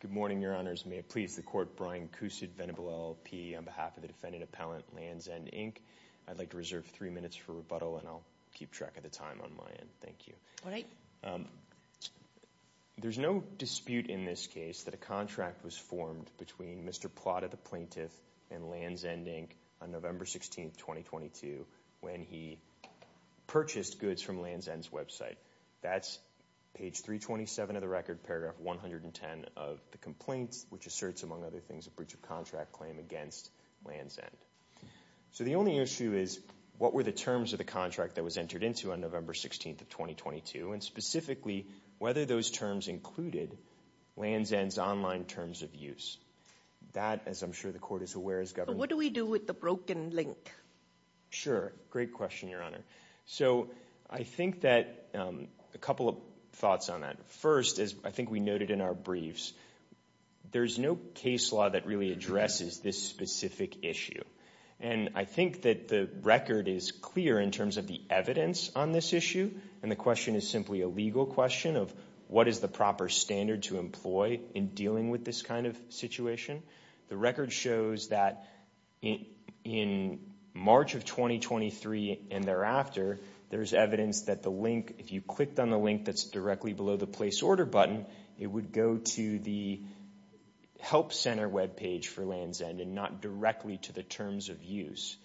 Good morning, Your Honors. May it please the Court, Brian Cousid, Venable LLP, on behalf of the Defendant Appellant, Lands' End, Inc. I'd like to reserve three minutes for rebuttal and I'll keep track of the time on my end. Thank you. There's no dispute in this case that a contract was formed between Mr. Plata, the plaintiff, and Lands' End, Inc. on November 16, 2022, when he purchased goods from Lands' End's website. That's page 327 of the record, paragraph 110 of the complaint, which asserts, among other things, a breach of contract claim against Lands' End. So the only issue is, what were the terms of the contract that was entered into on November 16, 2022, and specifically, whether those terms included Lands' End's online terms of use. That, as I'm sure the Court is aware, is governed— But what do we do with the broken link? Sure. Great question, Your Honor. So I think that—a couple of thoughts on that. First, as I think we noted in our briefs, there's no case law that really addresses this specific issue. And I think that the record is clear in terms of the evidence on this issue, and the question is simply a legal question of what is the proper standard to employ in dealing with this kind of situation. The record shows that in March of 2023 and thereafter, there's evidence that the link— if you clicked on the link that's directly below the Place Order button, it would go to the Help Center webpage for Lands' End and not directly to the terms of use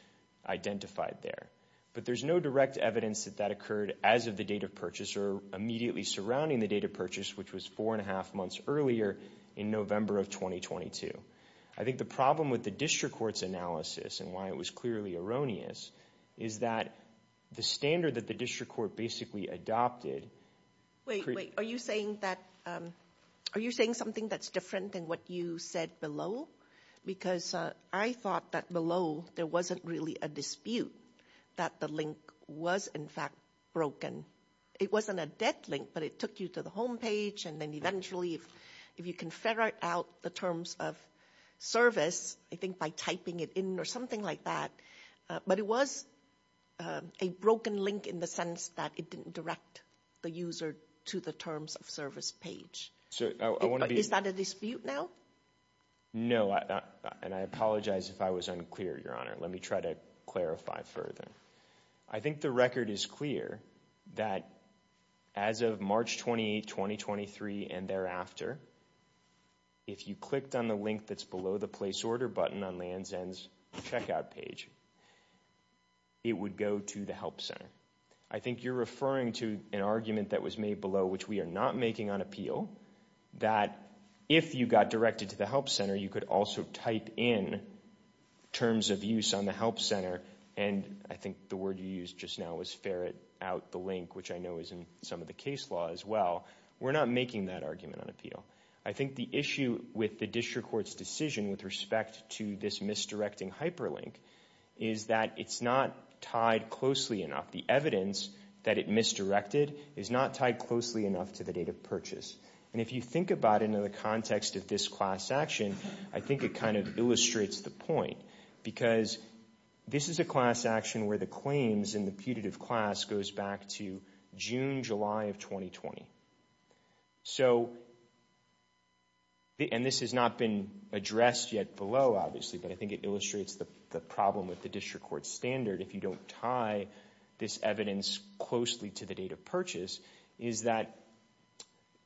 identified there. But there's no direct evidence that that occurred as of the date of purchase or immediately surrounding the date of purchase, which was four and a half months earlier in November of 2022. I think the problem with the District Court's analysis and why it was clearly erroneous is that the standard that the District Court basically adopted— Wait, wait. Are you saying that—are you saying something that's different than what you said below? Because I thought that below, there wasn't really a dispute that the link was, in fact, broken. I mean, it wasn't a dead link, but it took you to the homepage, and then eventually if you can figure out the terms of service, I think by typing it in or something like that. But it was a broken link in the sense that it didn't direct the user to the terms of service page. Is that a dispute now? No, and I apologize if I was unclear, Your Honor. Let me try to clarify further. I think the record is clear that as of March 28, 2023, and thereafter, if you clicked on the link that's below the Place Order button on Land's End's checkout page, it would go to the Help Center. I think you're referring to an argument that was made below, which we are not making on appeal, that if you got directed to the Help Center, you could also type in terms of use on the Help Center. And I think the word you used just now was ferret out the link, which I know is in some of the case law as well. We're not making that argument on appeal. I think the issue with the district court's decision with respect to this misdirecting hyperlink is that it's not tied closely enough. The evidence that it misdirected is not tied closely enough to the date of purchase. And if you think about it in the context of this class action, I think it kind of illustrates the point. Because this is a class action where the claims in the putative class goes back to June, July of 2020. So, and this has not been addressed yet below, obviously, but I think it illustrates the problem with the district court's standard if you don't tie this evidence closely to the date of purchase, is that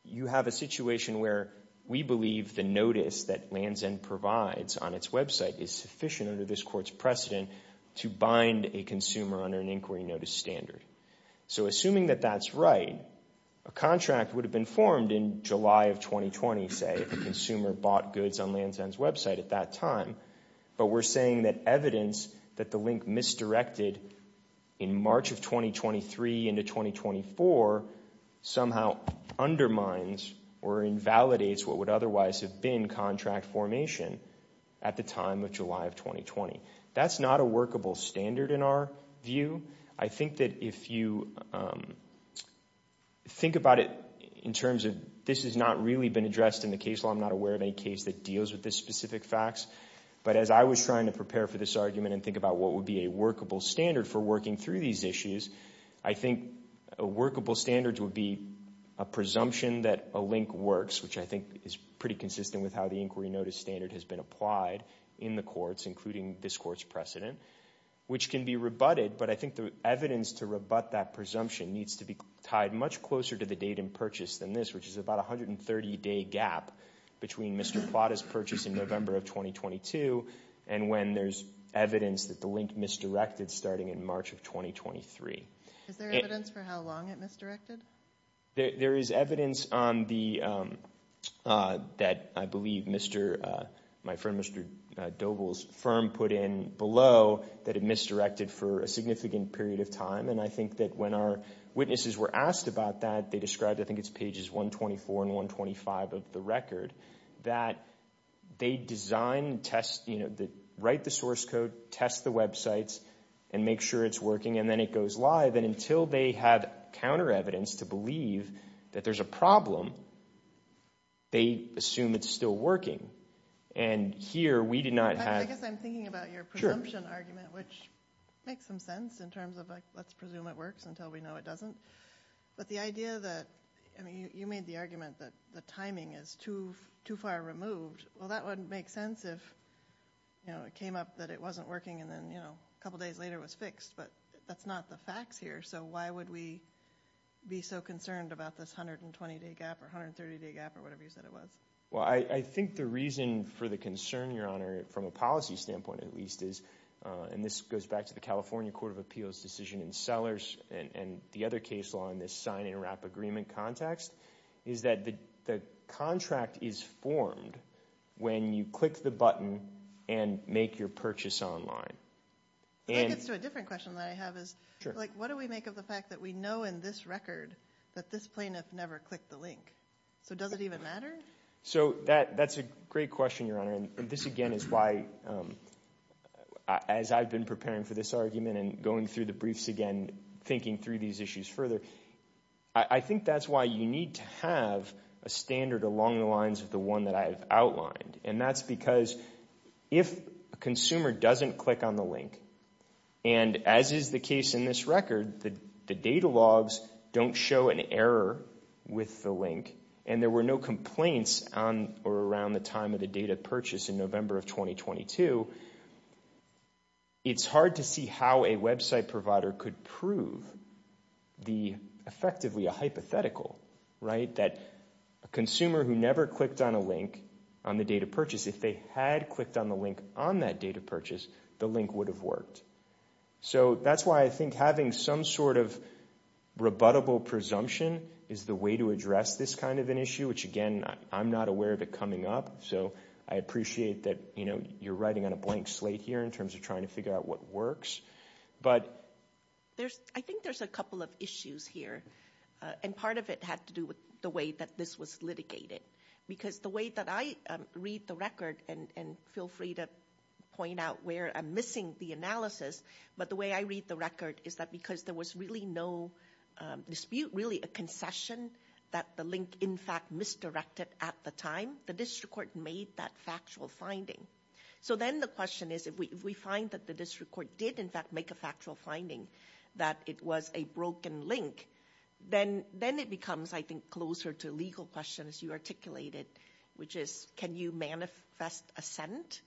you have a situation where we believe the notice that Land's End provides on its website is sufficient under this court's precedent to bind a consumer under an inquiry notice standard. So assuming that that's right, a contract would have been formed in July of 2020, say, if a consumer bought goods on Land's End's website at that time. But we're saying that evidence that the link misdirected in March of 2023 into 2024 somehow undermines or invalidates what would otherwise have been contract formation at the time of July of 2020. That's not a workable standard in our view. I think that if you think about it in terms of this has not really been addressed in the case law. I'm not aware of any case that deals with this specific facts. But as I was trying to prepare for this argument and think about what would be a workable standard for working through these issues, I think a workable standard would be a presumption that a link works, which I think is pretty consistent with how the inquiry notice standard has been applied in the courts, including this court's precedent, which can be rebutted. But I think the evidence to rebut that presumption needs to be tied much closer to the date of purchase than this, which is about a 130-day gap between Mr. Plata's purchase in November of 2022 and when there's evidence that the link misdirected starting in March of 2023. Is there evidence for how long it misdirected? There is evidence that I believe my friend Mr. Doble's firm put in below that it misdirected for a significant period of time. And I think that when our witnesses were asked about that, they described, I think it's pages 124 and 125 of the record, that they design, write the source code, test the websites, and make sure it's working, and then it goes live. And until they have counter evidence to believe that there's a problem, they assume it's still working. I guess I'm thinking about your presumption argument, which makes some sense in terms of let's presume it works until we know it doesn't. But you made the argument that the timing is too far removed. Well, that would make sense if it came up that it wasn't working and then a couple days later it was fixed. But that's not the facts here. So why would we be so concerned about this 120-day gap or 130-day gap or whatever you said it was? Well, I think the reason for the concern, Your Honor, from a policy standpoint at least is, and this goes back to the California Court of Appeals decision in Sellers and the other case law in this sign and wrap agreement context, is that the contract is formed when you click the button and make your purchase online. That gets to a different question that I have is what do we make of the fact that we know in this record that this plaintiff never clicked the link? So does it even matter? So that's a great question, Your Honor, and this again is why, as I've been preparing for this argument and going through the briefs again thinking through these issues further, I think that's why you need to have a standard along the lines of the one that I have outlined, and that's because if a consumer doesn't click on the link, and as is the case in this record, the data logs don't show an error with the link, and there were no complaints on or around the time of the data purchase in November of 2022, it's hard to see how a website provider could prove effectively a hypothetical, right, that a consumer who never clicked on a link on the date of purchase, if they had clicked on the link on that date of purchase, the link would have worked. So that's why I think having some sort of rebuttable presumption is the way to address this kind of an issue, which again I'm not aware of it coming up, so I appreciate that you're writing on a blank slate here in terms of trying to figure out what works. But I think there's a couple of issues here, and part of it had to do with the way that this was litigated, because the way that I read the record, and feel free to point out where I'm missing the analysis, but the way I read the record is that because there was really no dispute, really a concession, that the link in fact misdirected at the time, the district court made that factual finding. So then the question is if we find that the district court did in fact make a factual finding that it was a broken link, then it becomes I think closer to legal questions you articulated, which is can you manifest assent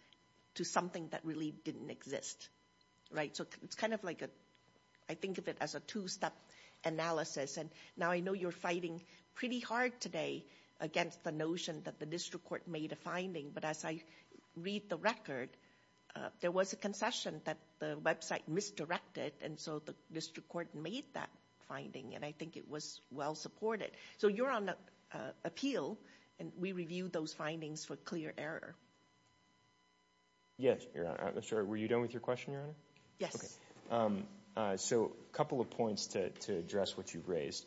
to something that really didn't exist. So it's kind of like I think of it as a two-step analysis, and now I know you're fighting pretty hard today against the notion that the district court made a finding, but as I read the record, there was a concession that the website misdirected, and so the district court made that finding, and I think it was well supported. So you're on appeal, and we reviewed those findings for clear error. Yes, Your Honor. I'm sorry, were you done with your question, Your Honor? Yes. Okay. So a couple of points to address what you've raised.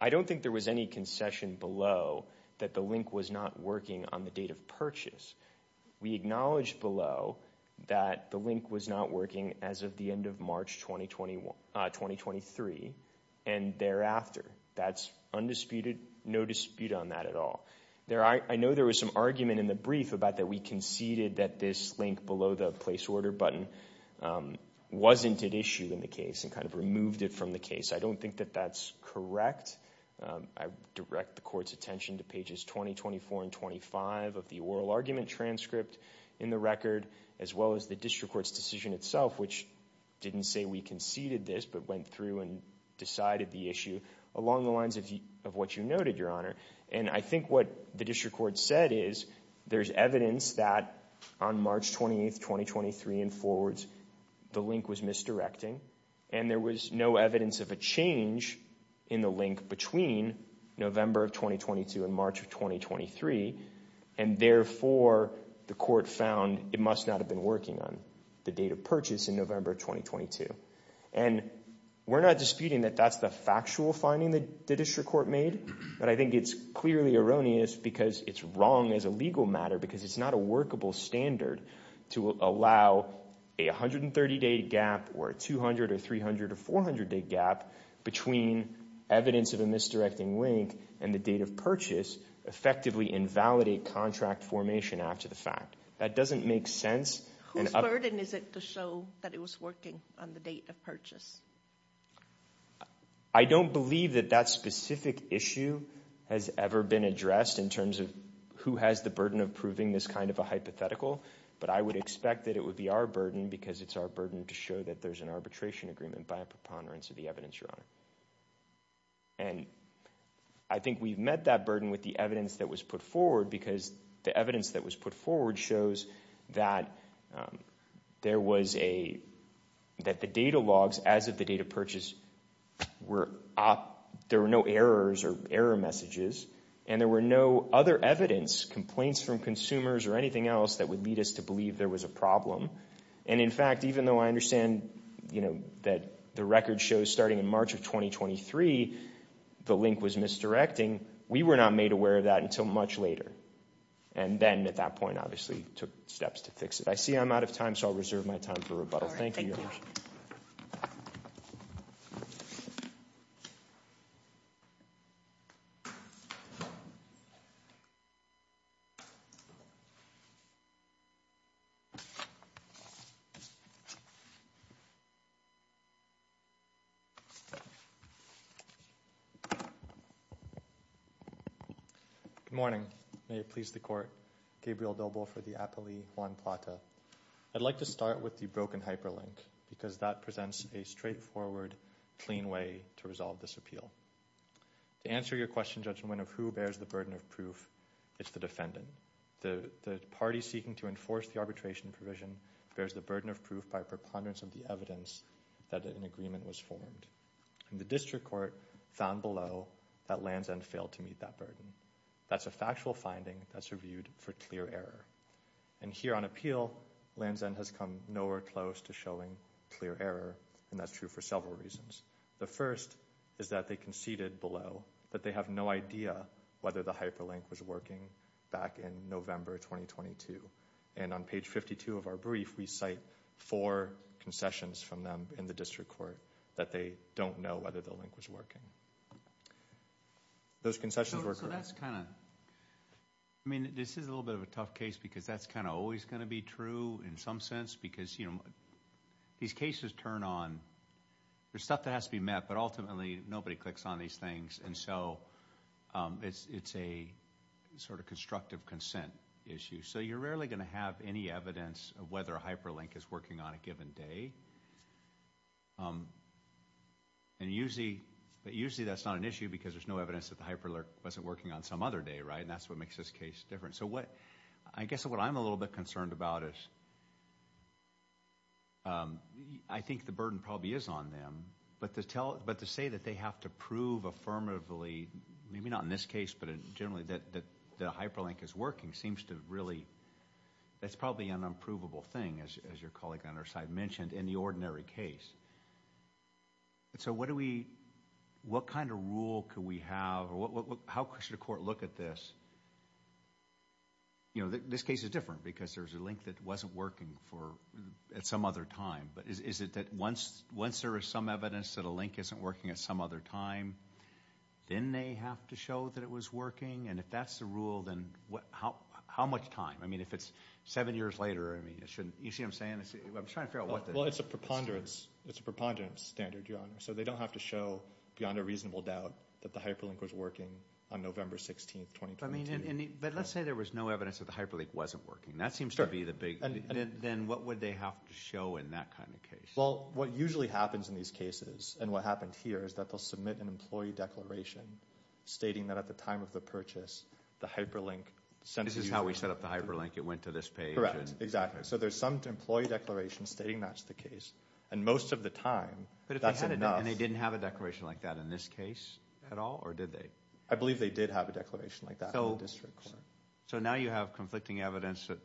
I don't think there was any concession below that the link was not working on the date of purchase. We acknowledge below that the link was not working as of the end of March 2023, and thereafter. That's undisputed, no dispute on that at all. I know there was some argument in the brief about that we conceded that this link below the place order button wasn't at issue in the case and kind of removed it from the case. I don't think that that's correct. I direct the court's attention to pages 20, 24, and 25 of the oral argument transcript in the record, as well as the district court's decision itself, which didn't say we conceded this, but went through and decided the issue along the lines of what you noted, Your Honor. And I think what the district court said is there's evidence that on March 28, 2023 and forwards, the link was misdirecting, and there was no evidence of a change in the link between November of 2022 and March of 2023, and therefore the court found it must not have been working on the date of purchase in November of 2022. And we're not disputing that that's the factual finding that the district court made, but I think it's clearly erroneous because it's wrong as a legal matter because it's not a workable standard to allow a 130-day gap or a 200- or 300- or 400-day gap between evidence of a misdirecting link and the date of purchase effectively invalidate contract formation after the fact. That doesn't make sense. Whose burden is it to show that it was working on the date of purchase? I don't believe that that specific issue has ever been addressed in terms of who has the burden of proving this kind of a hypothetical, but I would expect that it would be our burden because it's our burden to show that there's an arbitration agreement by a preponderance of the evidence, Your Honor. And I think we've met that burden with the evidence that was put forward because the evidence that was put forward shows that there was a—that the data logs as of the date of purchase were— there were no errors or error messages, and there were no other evidence, complaints from consumers or anything else that would lead us to believe there was a problem. And in fact, even though I understand, you know, that the record shows starting in March of 2023 the link was misdirecting, we were not made aware of that until much later, and then at that point obviously took steps to fix it. I see I'm out of time, so I'll reserve my time for rebuttal. Thank you, Your Honor. Thank you. Good morning. May it please the Court. Gabriel Doble for the Apolli Juan Plata. I'd like to start with the broken hyperlink because that presents a straightforward, clean way to resolve this appeal. To answer your question, Judge Nguyen, of who bears the burden of proof, it's the defendant. The party seeking to enforce the arbitration provision bears the burden of proof by preponderance of the evidence that an agreement was formed. And the district court found below that Lansden failed to meet that burden. That's a factual finding that's reviewed for clear error. And here on appeal, Lansden has come nowhere close to showing clear error, and that's true for several reasons. The first is that they conceded below that they have no idea whether the hyperlink was working back in November 2022. And on page 52 of our brief, we cite four concessions from them in the district court that they don't know whether the link was working. Those concessions were correct. So that's kind of – I mean, this is a little bit of a tough case because that's kind of always going to be true in some sense because, you know, these cases turn on – there's stuff that has to be met, but ultimately nobody clicks on these things. And so it's a sort of constructive consent issue. So you're rarely going to have any evidence of whether a hyperlink is working on a given day. And usually – but usually that's not an issue because there's no evidence that the hyperlink wasn't working on some other day, right? And that's what makes this case different. So what – I guess what I'm a little bit concerned about is I think the burden probably is on them, but to tell – but to say that they have to prove affirmatively, maybe not in this case, but generally that the hyperlink is working seems to really – that's probably an unprovable thing, as your colleague on our side mentioned. In the ordinary case. So what do we – what kind of rule could we have? How should a court look at this? You know, this case is different because there's a link that wasn't working for – at some other time. But is it that once there is some evidence that a link isn't working at some other time, then they have to show that it was working? And if that's the rule, then how much time? I mean, if it's seven years later, I mean, it shouldn't – you see what I'm saying? Well, it's a preponderance standard, Your Honor. So they don't have to show beyond a reasonable doubt that the hyperlink was working on November 16th, 2012. But let's say there was no evidence that the hyperlink wasn't working. That seems to be the big – then what would they have to show in that kind of case? Well, what usually happens in these cases and what happened here is that they'll submit an employee declaration stating that at the time of the purchase, the hyperlink – This is how we set up the hyperlink. It went to this page. Correct. Exactly. So there's some employee declaration stating that's the case. And most of the time, that's enough. But if they had a – and they didn't have a declaration like that in this case at all, or did they? I believe they did have a declaration like that in the district court. So now you have conflicting evidence that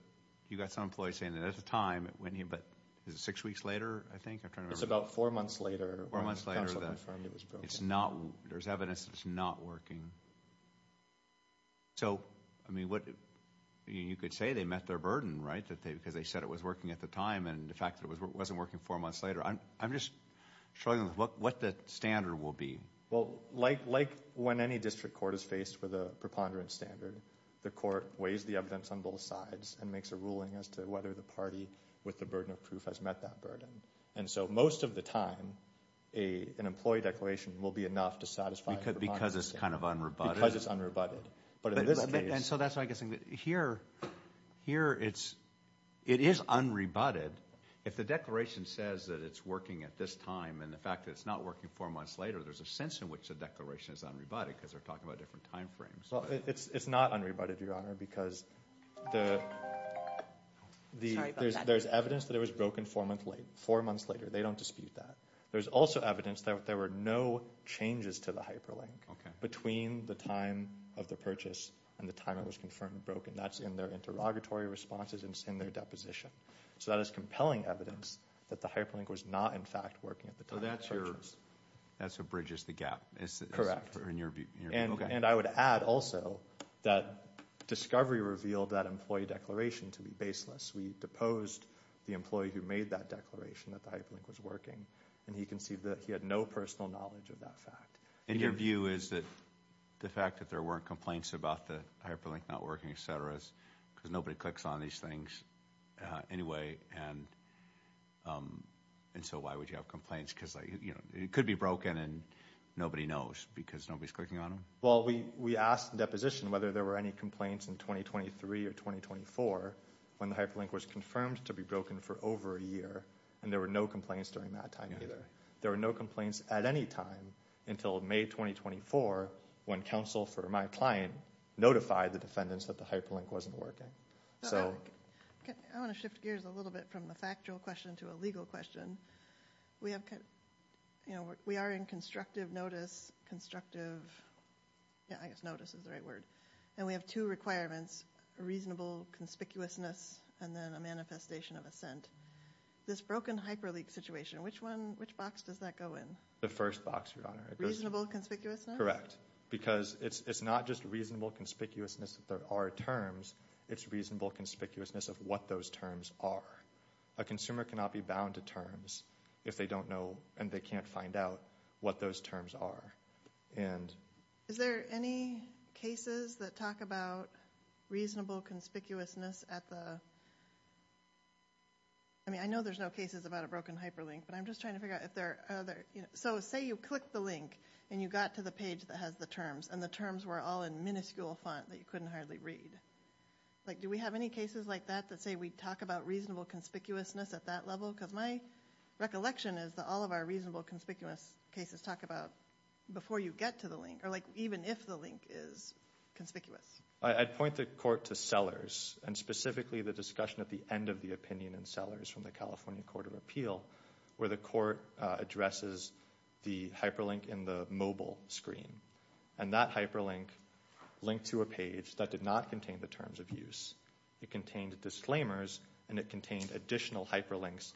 you got some employee saying that at the time it went here, but is it six weeks later, I think? I'm trying to remember. It's about four months later. Four months later that it's not – there's evidence that it's not working. So, I mean, you could say they met their burden, right, because they said it was working at the time and the fact that it wasn't working four months later. I'm just struggling with what the standard will be. Well, like when any district court is faced with a preponderance standard, the court weighs the evidence on both sides and makes a ruling as to whether the party with the burden of proof has met that burden. And so most of the time, an employee declaration will be enough to satisfy preponderance. Because it's kind of unrebutted. And so that's why I'm guessing that here it is unrebutted. If the declaration says that it's working at this time and the fact that it's not working four months later, there's a sense in which the declaration is unrebutted because they're talking about different time frames. Well, it's not unrebutted, Your Honor, because there's evidence that it was broken four months later. Four months later. They don't dispute that. There's also evidence that there were no changes to the hyperlink between the time of the purchase and the time it was confirmed broken. That's in their interrogatory responses and it's in their deposition. So that is compelling evidence that the hyperlink was not, in fact, working at the time of the purchase. So that's what bridges the gap. Correct. In your view. And I would add also that discovery revealed that employee declaration to be baseless. We deposed the employee who made that declaration that the hyperlink was working and he conceded that he had no personal knowledge of that fact. And your view is that the fact that there weren't complaints about the hyperlink not working, et cetera, because nobody clicks on these things anyway and so why would you have complaints? Because it could be broken and nobody knows because nobody's clicking on them. Well, we asked the deposition whether there were any complaints in 2023 or 2024 when the hyperlink was confirmed to be broken for over a year and there were no complaints during that time either. There were no complaints at any time until May 2024 when counsel for my client notified the defendants that the hyperlink wasn't working. I want to shift gears a little bit from the factual question to a legal question. We are in constructive notice, constructive, I guess notice is the right word, and we have two requirements, reasonable conspicuousness and then a manifestation of assent. This broken hyperlink situation, which box does that go in? The first box, Your Honor. Reasonable conspicuousness? Correct, because it's not just reasonable conspicuousness that there are terms, it's reasonable conspicuousness of what those terms are. A consumer cannot be bound to terms if they don't know and they can't find out what those terms are. Is there any cases that talk about reasonable conspicuousness at the – I mean, I know there's no cases about a broken hyperlink, but I'm just trying to figure out if there are other – so say you click the link and you got to the page that has the terms and the terms were all in minuscule font that you couldn't hardly read. Do we have any cases like that that say we talk about reasonable conspicuousness at that level? Because my recollection is that all of our reasonable conspicuous cases talk about before you get to the link or, like, even if the link is conspicuous. I'd point the court to Sellers and specifically the discussion at the end of the opinion in Sellers from the California Court of Appeal where the court addresses the hyperlink in the mobile screen and that hyperlink linked to a page that did not contain the terms of use. It contained disclaimers and it contained additional hyperlinks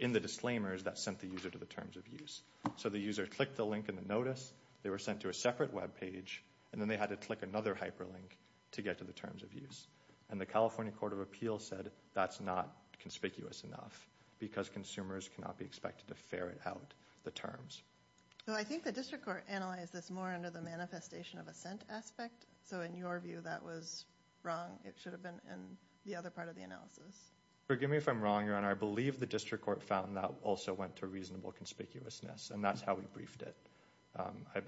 in the disclaimers that sent the user to the terms of use. So the user clicked the link in the notice, they were sent to a separate web page, and then they had to click another hyperlink to get to the terms of use. And the California Court of Appeal said that's not conspicuous enough because consumers cannot be expected to ferret out the terms. Well, I think the district court analyzed this more under the manifestation of assent aspect. So in your view, that was wrong. It should have been in the other part of the analysis. Forgive me if I'm wrong, Your Honor. I believe the district court found that also went to reasonable conspicuousness, and that's how we briefed it.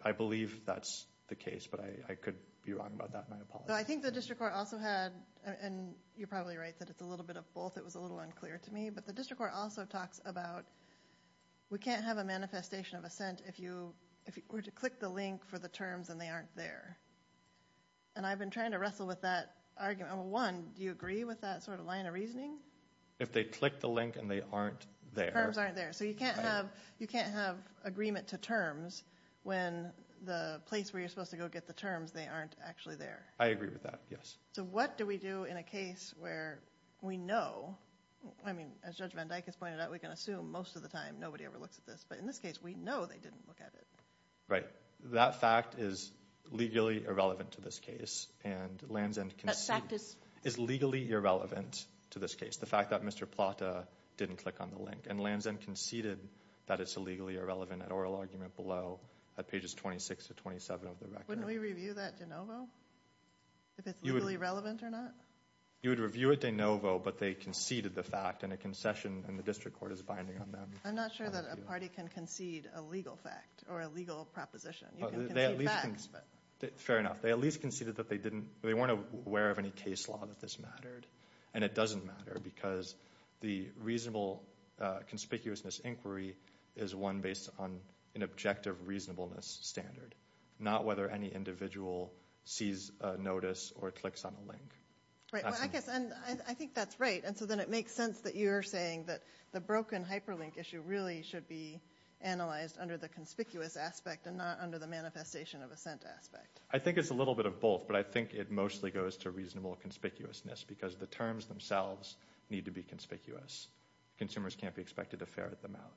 I believe that's the case, but I could be wrong about that, and I apologize. I think the district court also had, and you're probably right that it's a little bit of both. It was a little unclear to me. But the district court also talks about we can't have a manifestation of assent if you were to click the link for the terms and they aren't there. And I've been trying to wrestle with that argument. One, do you agree with that sort of line of reasoning? If they click the link and they aren't there. The terms aren't there. So you can't have agreement to terms when the place where you're supposed to go get the terms, they aren't actually there. I agree with that, yes. So what do we do in a case where we know? I mean, as Judge Van Dyck has pointed out, we can assume most of the time nobody ever looks at this. But in this case, we know they didn't look at it. That fact is legally irrelevant to this case, and Lansden conceded. That fact is? Is legally irrelevant to this case. The fact that Mr. Plata didn't click on the link. And Lansden conceded that it's illegally irrelevant at oral argument below at pages 26 to 27 of the record. Wouldn't we review that at De Novo? If it's legally relevant or not? You would review it at De Novo, but they conceded the fact, and a concession in the district court is binding on them. I'm not sure that a party can concede a legal fact or a legal proposition. You can concede facts. Fair enough. They at least conceded that they weren't aware of any case law that this mattered. And it doesn't matter because the reasonable conspicuousness inquiry is one based on an objective reasonableness standard, not whether any individual sees a notice or clicks on a link. Right. Well, I guess I think that's right. And so then it makes sense that you're saying that the broken hyperlink issue really should be analyzed under the conspicuous aspect and not under the manifestation of assent aspect. I think it's a little bit of both, but I think it mostly goes to reasonable conspicuousness because the terms themselves need to be conspicuous. Consumers can't be expected to ferret them out.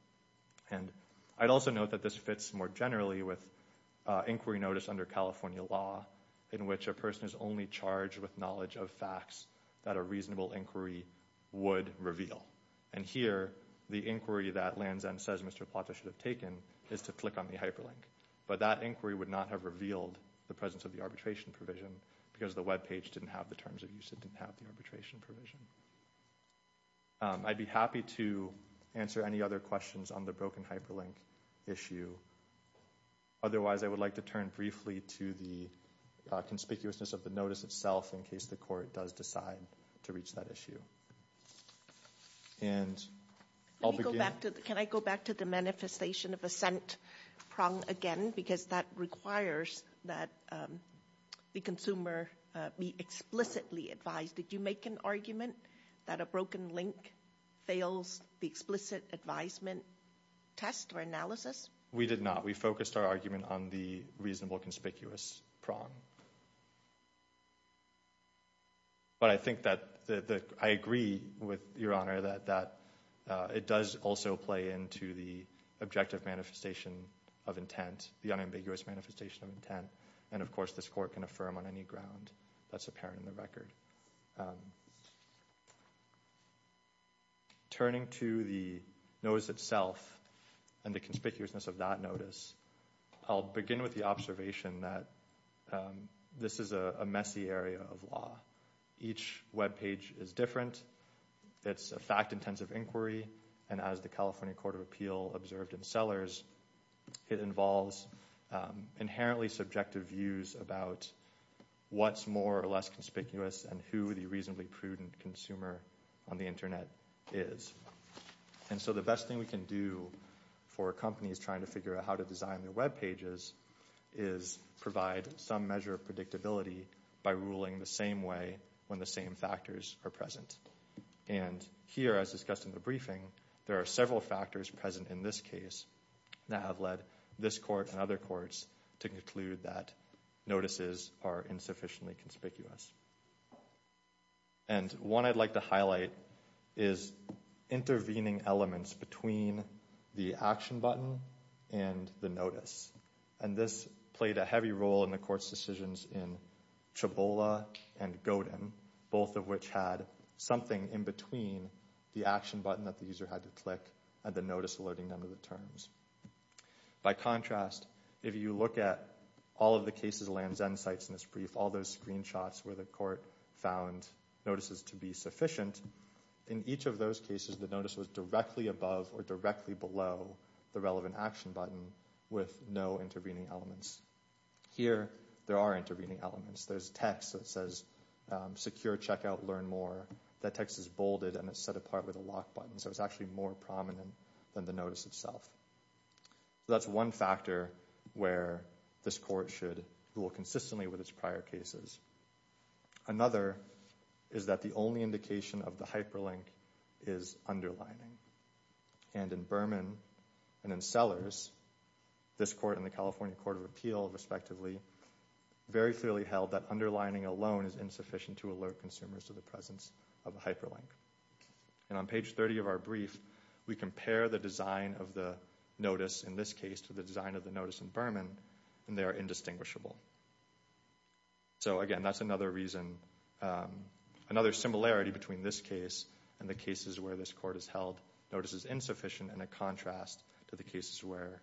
And I'd also note that this fits more generally with inquiry notice under California law in which a person is only charged with knowledge of facts that a reasonable inquiry would reveal. And here the inquiry that Land's End says Mr. Plata should have taken is to click on the hyperlink. But that inquiry would not have revealed the presence of the arbitration provision because the web page didn't have the terms of use. It didn't have the arbitration provision. I'd be happy to answer any other questions on the broken hyperlink issue. Otherwise, I would like to turn briefly to the conspicuousness of the notice itself in case the court does decide to reach that issue. Can I go back to the manifestation of assent prong again? Because that requires that the consumer be explicitly advised. Did you make an argument that a broken link fails the explicit advisement test or analysis? We did not. We focused our argument on the reasonable conspicuous prong. But I think that I agree with Your Honor that it does also play into the objective manifestation of intent, the unambiguous manifestation of intent. And, of course, this court can affirm on any ground that's apparent in the record. Turning to the notice itself and the conspicuousness of that notice, I'll begin with the observation that this is a messy area of law. Each web page is different. It's a fact-intensive inquiry. And as the California Court of Appeal observed in Sellers, it involves inherently subjective views about what's more or less conspicuous and who the reasonably prudent consumer on the Internet is. And so the best thing we can do for companies trying to figure out how to design their web pages is provide some measure of predictability by ruling the same way when the same factors are present. And here, as discussed in the briefing, there are several factors present in this case that have led this court and other courts to conclude that notices are insufficiently conspicuous. And one I'd like to highlight is intervening elements between the action button and the notice. And this played a heavy role in the court's decisions in Chabola and Godin, both of which had something in between the action button that the user had to click and the notice alerting them to the terms. By contrast, if you look at all of the cases of Land's End sites in this brief, all those screenshots where the court found notices to be sufficient, in each of those cases the notice was directly above or directly below the relevant action button with no intervening elements. Here, there are intervening elements. There's text that says, secure checkout, learn more. That text is bolded and is set apart with a lock button, so it's actually more prominent than the notice itself. That's one factor where this court should rule consistently with its prior cases. Another is that the only indication of the hyperlink is underlining. And in Berman and in Sellers, this court and the California Court of Appeal, respectively, very clearly held that underlining alone is insufficient to alert consumers to the presence of a hyperlink. And on page 30 of our brief, we compare the design of the notice in this case to the design of the notice in Berman, and they are indistinguishable. So again, that's another reason, another similarity between this case and the cases where this court has held notices insufficient in a contrast to the cases where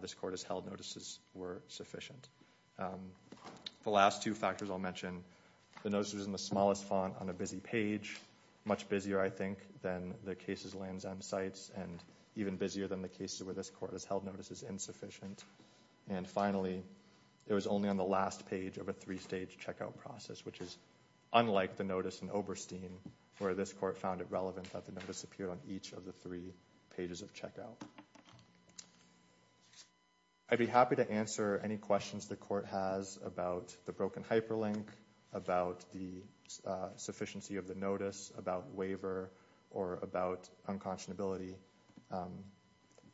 this court has held notices were sufficient. The last two factors I'll mention, the notice was in the smallest font on a busy page, much busier, I think, than the cases, lands, and sites, and even busier than the cases where this court has held notices insufficient. And finally, it was only on the last page of a three-stage checkout process, which is unlike the notice in Oberstein, where this court found it relevant that the notice appeared on each of the three pages of checkout. I'd be happy to answer any questions the court has about the broken hyperlink, about the sufficiency of the notice, about waiver, or about unconscionability.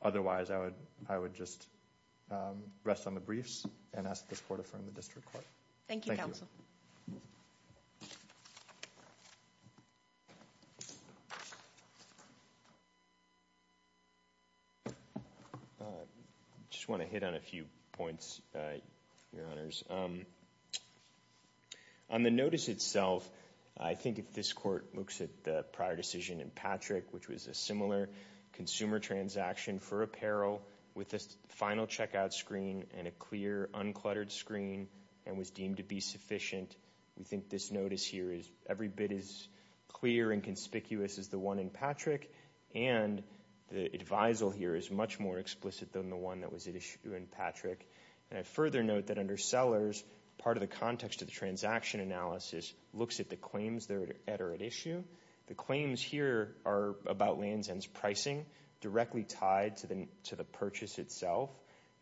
Otherwise, I would just rest on the briefs and ask this court to affirm the district court. Thank you, counsel. I just want to hit on a few points, Your Honors. On the notice itself, I think if this court looks at the prior decision in Patrick, which was a similar consumer transaction for apparel with a final checkout screen and a clear, uncluttered screen and was deemed to be sufficient, we think this notice here is every bit as clear and conspicuous as the one in Patrick, and the advisal here is much more explicit than the one that was at issue in Patrick. And I'd further note that under sellers, part of the context of the transaction analysis looks at the claims that are at issue. The claims here are about Lands End's pricing, directly tied to the purchase itself.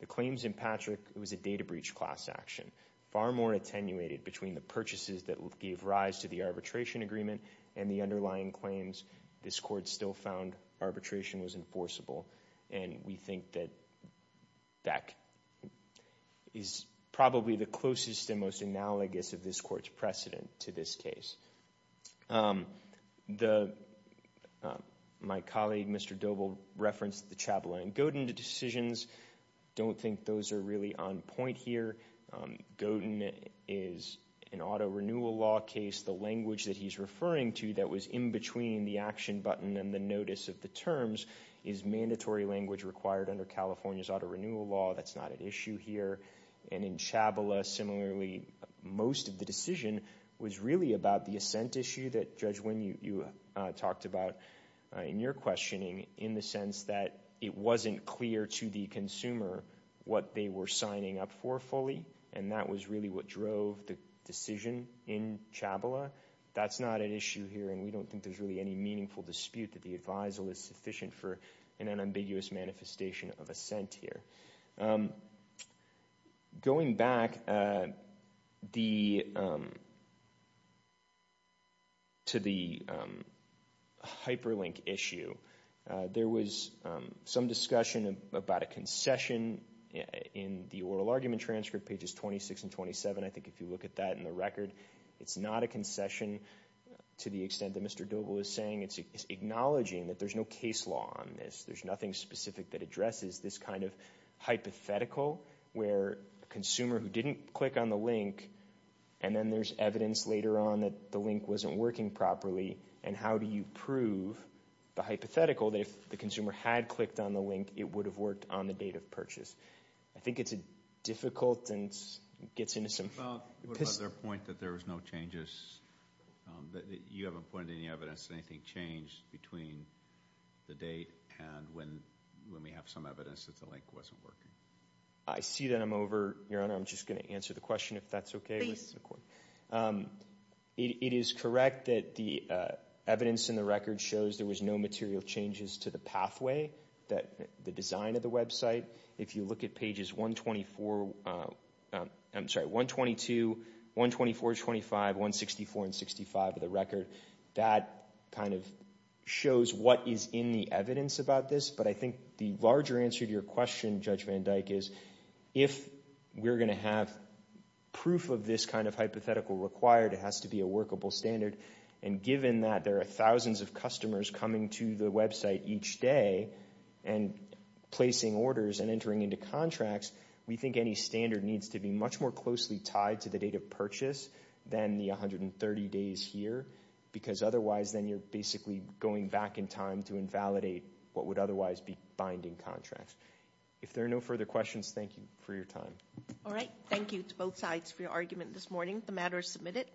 The claims in Patrick, it was a data breach class action, far more attenuated between the purchases that gave rise to the arbitration agreement and the underlying claims. This court still found arbitration was enforceable, and we think that that is probably the closest and most analogous of this court's precedent to this case. My colleague, Mr. Doble, referenced the Chabala and Godin decisions. I don't think those are really on point here. Godin is an auto renewal law case. The language that he's referring to that was in between the action button and the notice of the terms is mandatory language required under California's auto renewal law. That's not at issue here. And in Chabala, similarly, most of the decision was really about the assent issue that, Judge Wynn, you talked about in your questioning, in the sense that it wasn't clear to the consumer what they were signing up for fully, and that was really what drove the decision in Chabala. That's not at issue here, and we don't think there's really any meaningful dispute that the advisal is sufficient for an unambiguous manifestation of assent here. Going back to the hyperlink issue, there was some discussion about a concession in the oral argument transcript, pages 26 and 27. I think if you look at that in the record, it's not a concession to the extent that Mr. Doble is saying. It's acknowledging that there's no case law on this. There's nothing specific that addresses this kind of hypothetical where a consumer who didn't click on the link, and then there's evidence later on that the link wasn't working properly, and how do you prove the hypothetical that if the consumer had clicked on the link, it would have worked on the date of purchase? I think it's a difficult and gets into some... What about their point that there was no changes? You haven't pointed to any evidence of anything changed between the date and when we have some evidence that the link wasn't working? I see that I'm over, Your Honor. I'm just going to answer the question if that's okay. It is correct that the evidence in the record shows there was no material changes to the pathway, the design of the website. If you look at pages 122, 124, 25, 164, and 65 of the record, that kind of shows what is in the evidence about this, but I think the larger answer to your question, Judge Van Dyke, is if we're going to have proof of this kind of hypothetical required, it has to be a workable standard, and given that there are thousands of customers coming to the website each day and placing orders and entering into contracts, we think any standard needs to be much more closely tied to the date of purchase than the 130 days here because otherwise then you're basically going back in time to invalidate what would otherwise be binding contracts. If there are no further questions, thank you for your time. All right. Thank you to both sides for your argument this morning. The matter is submitted.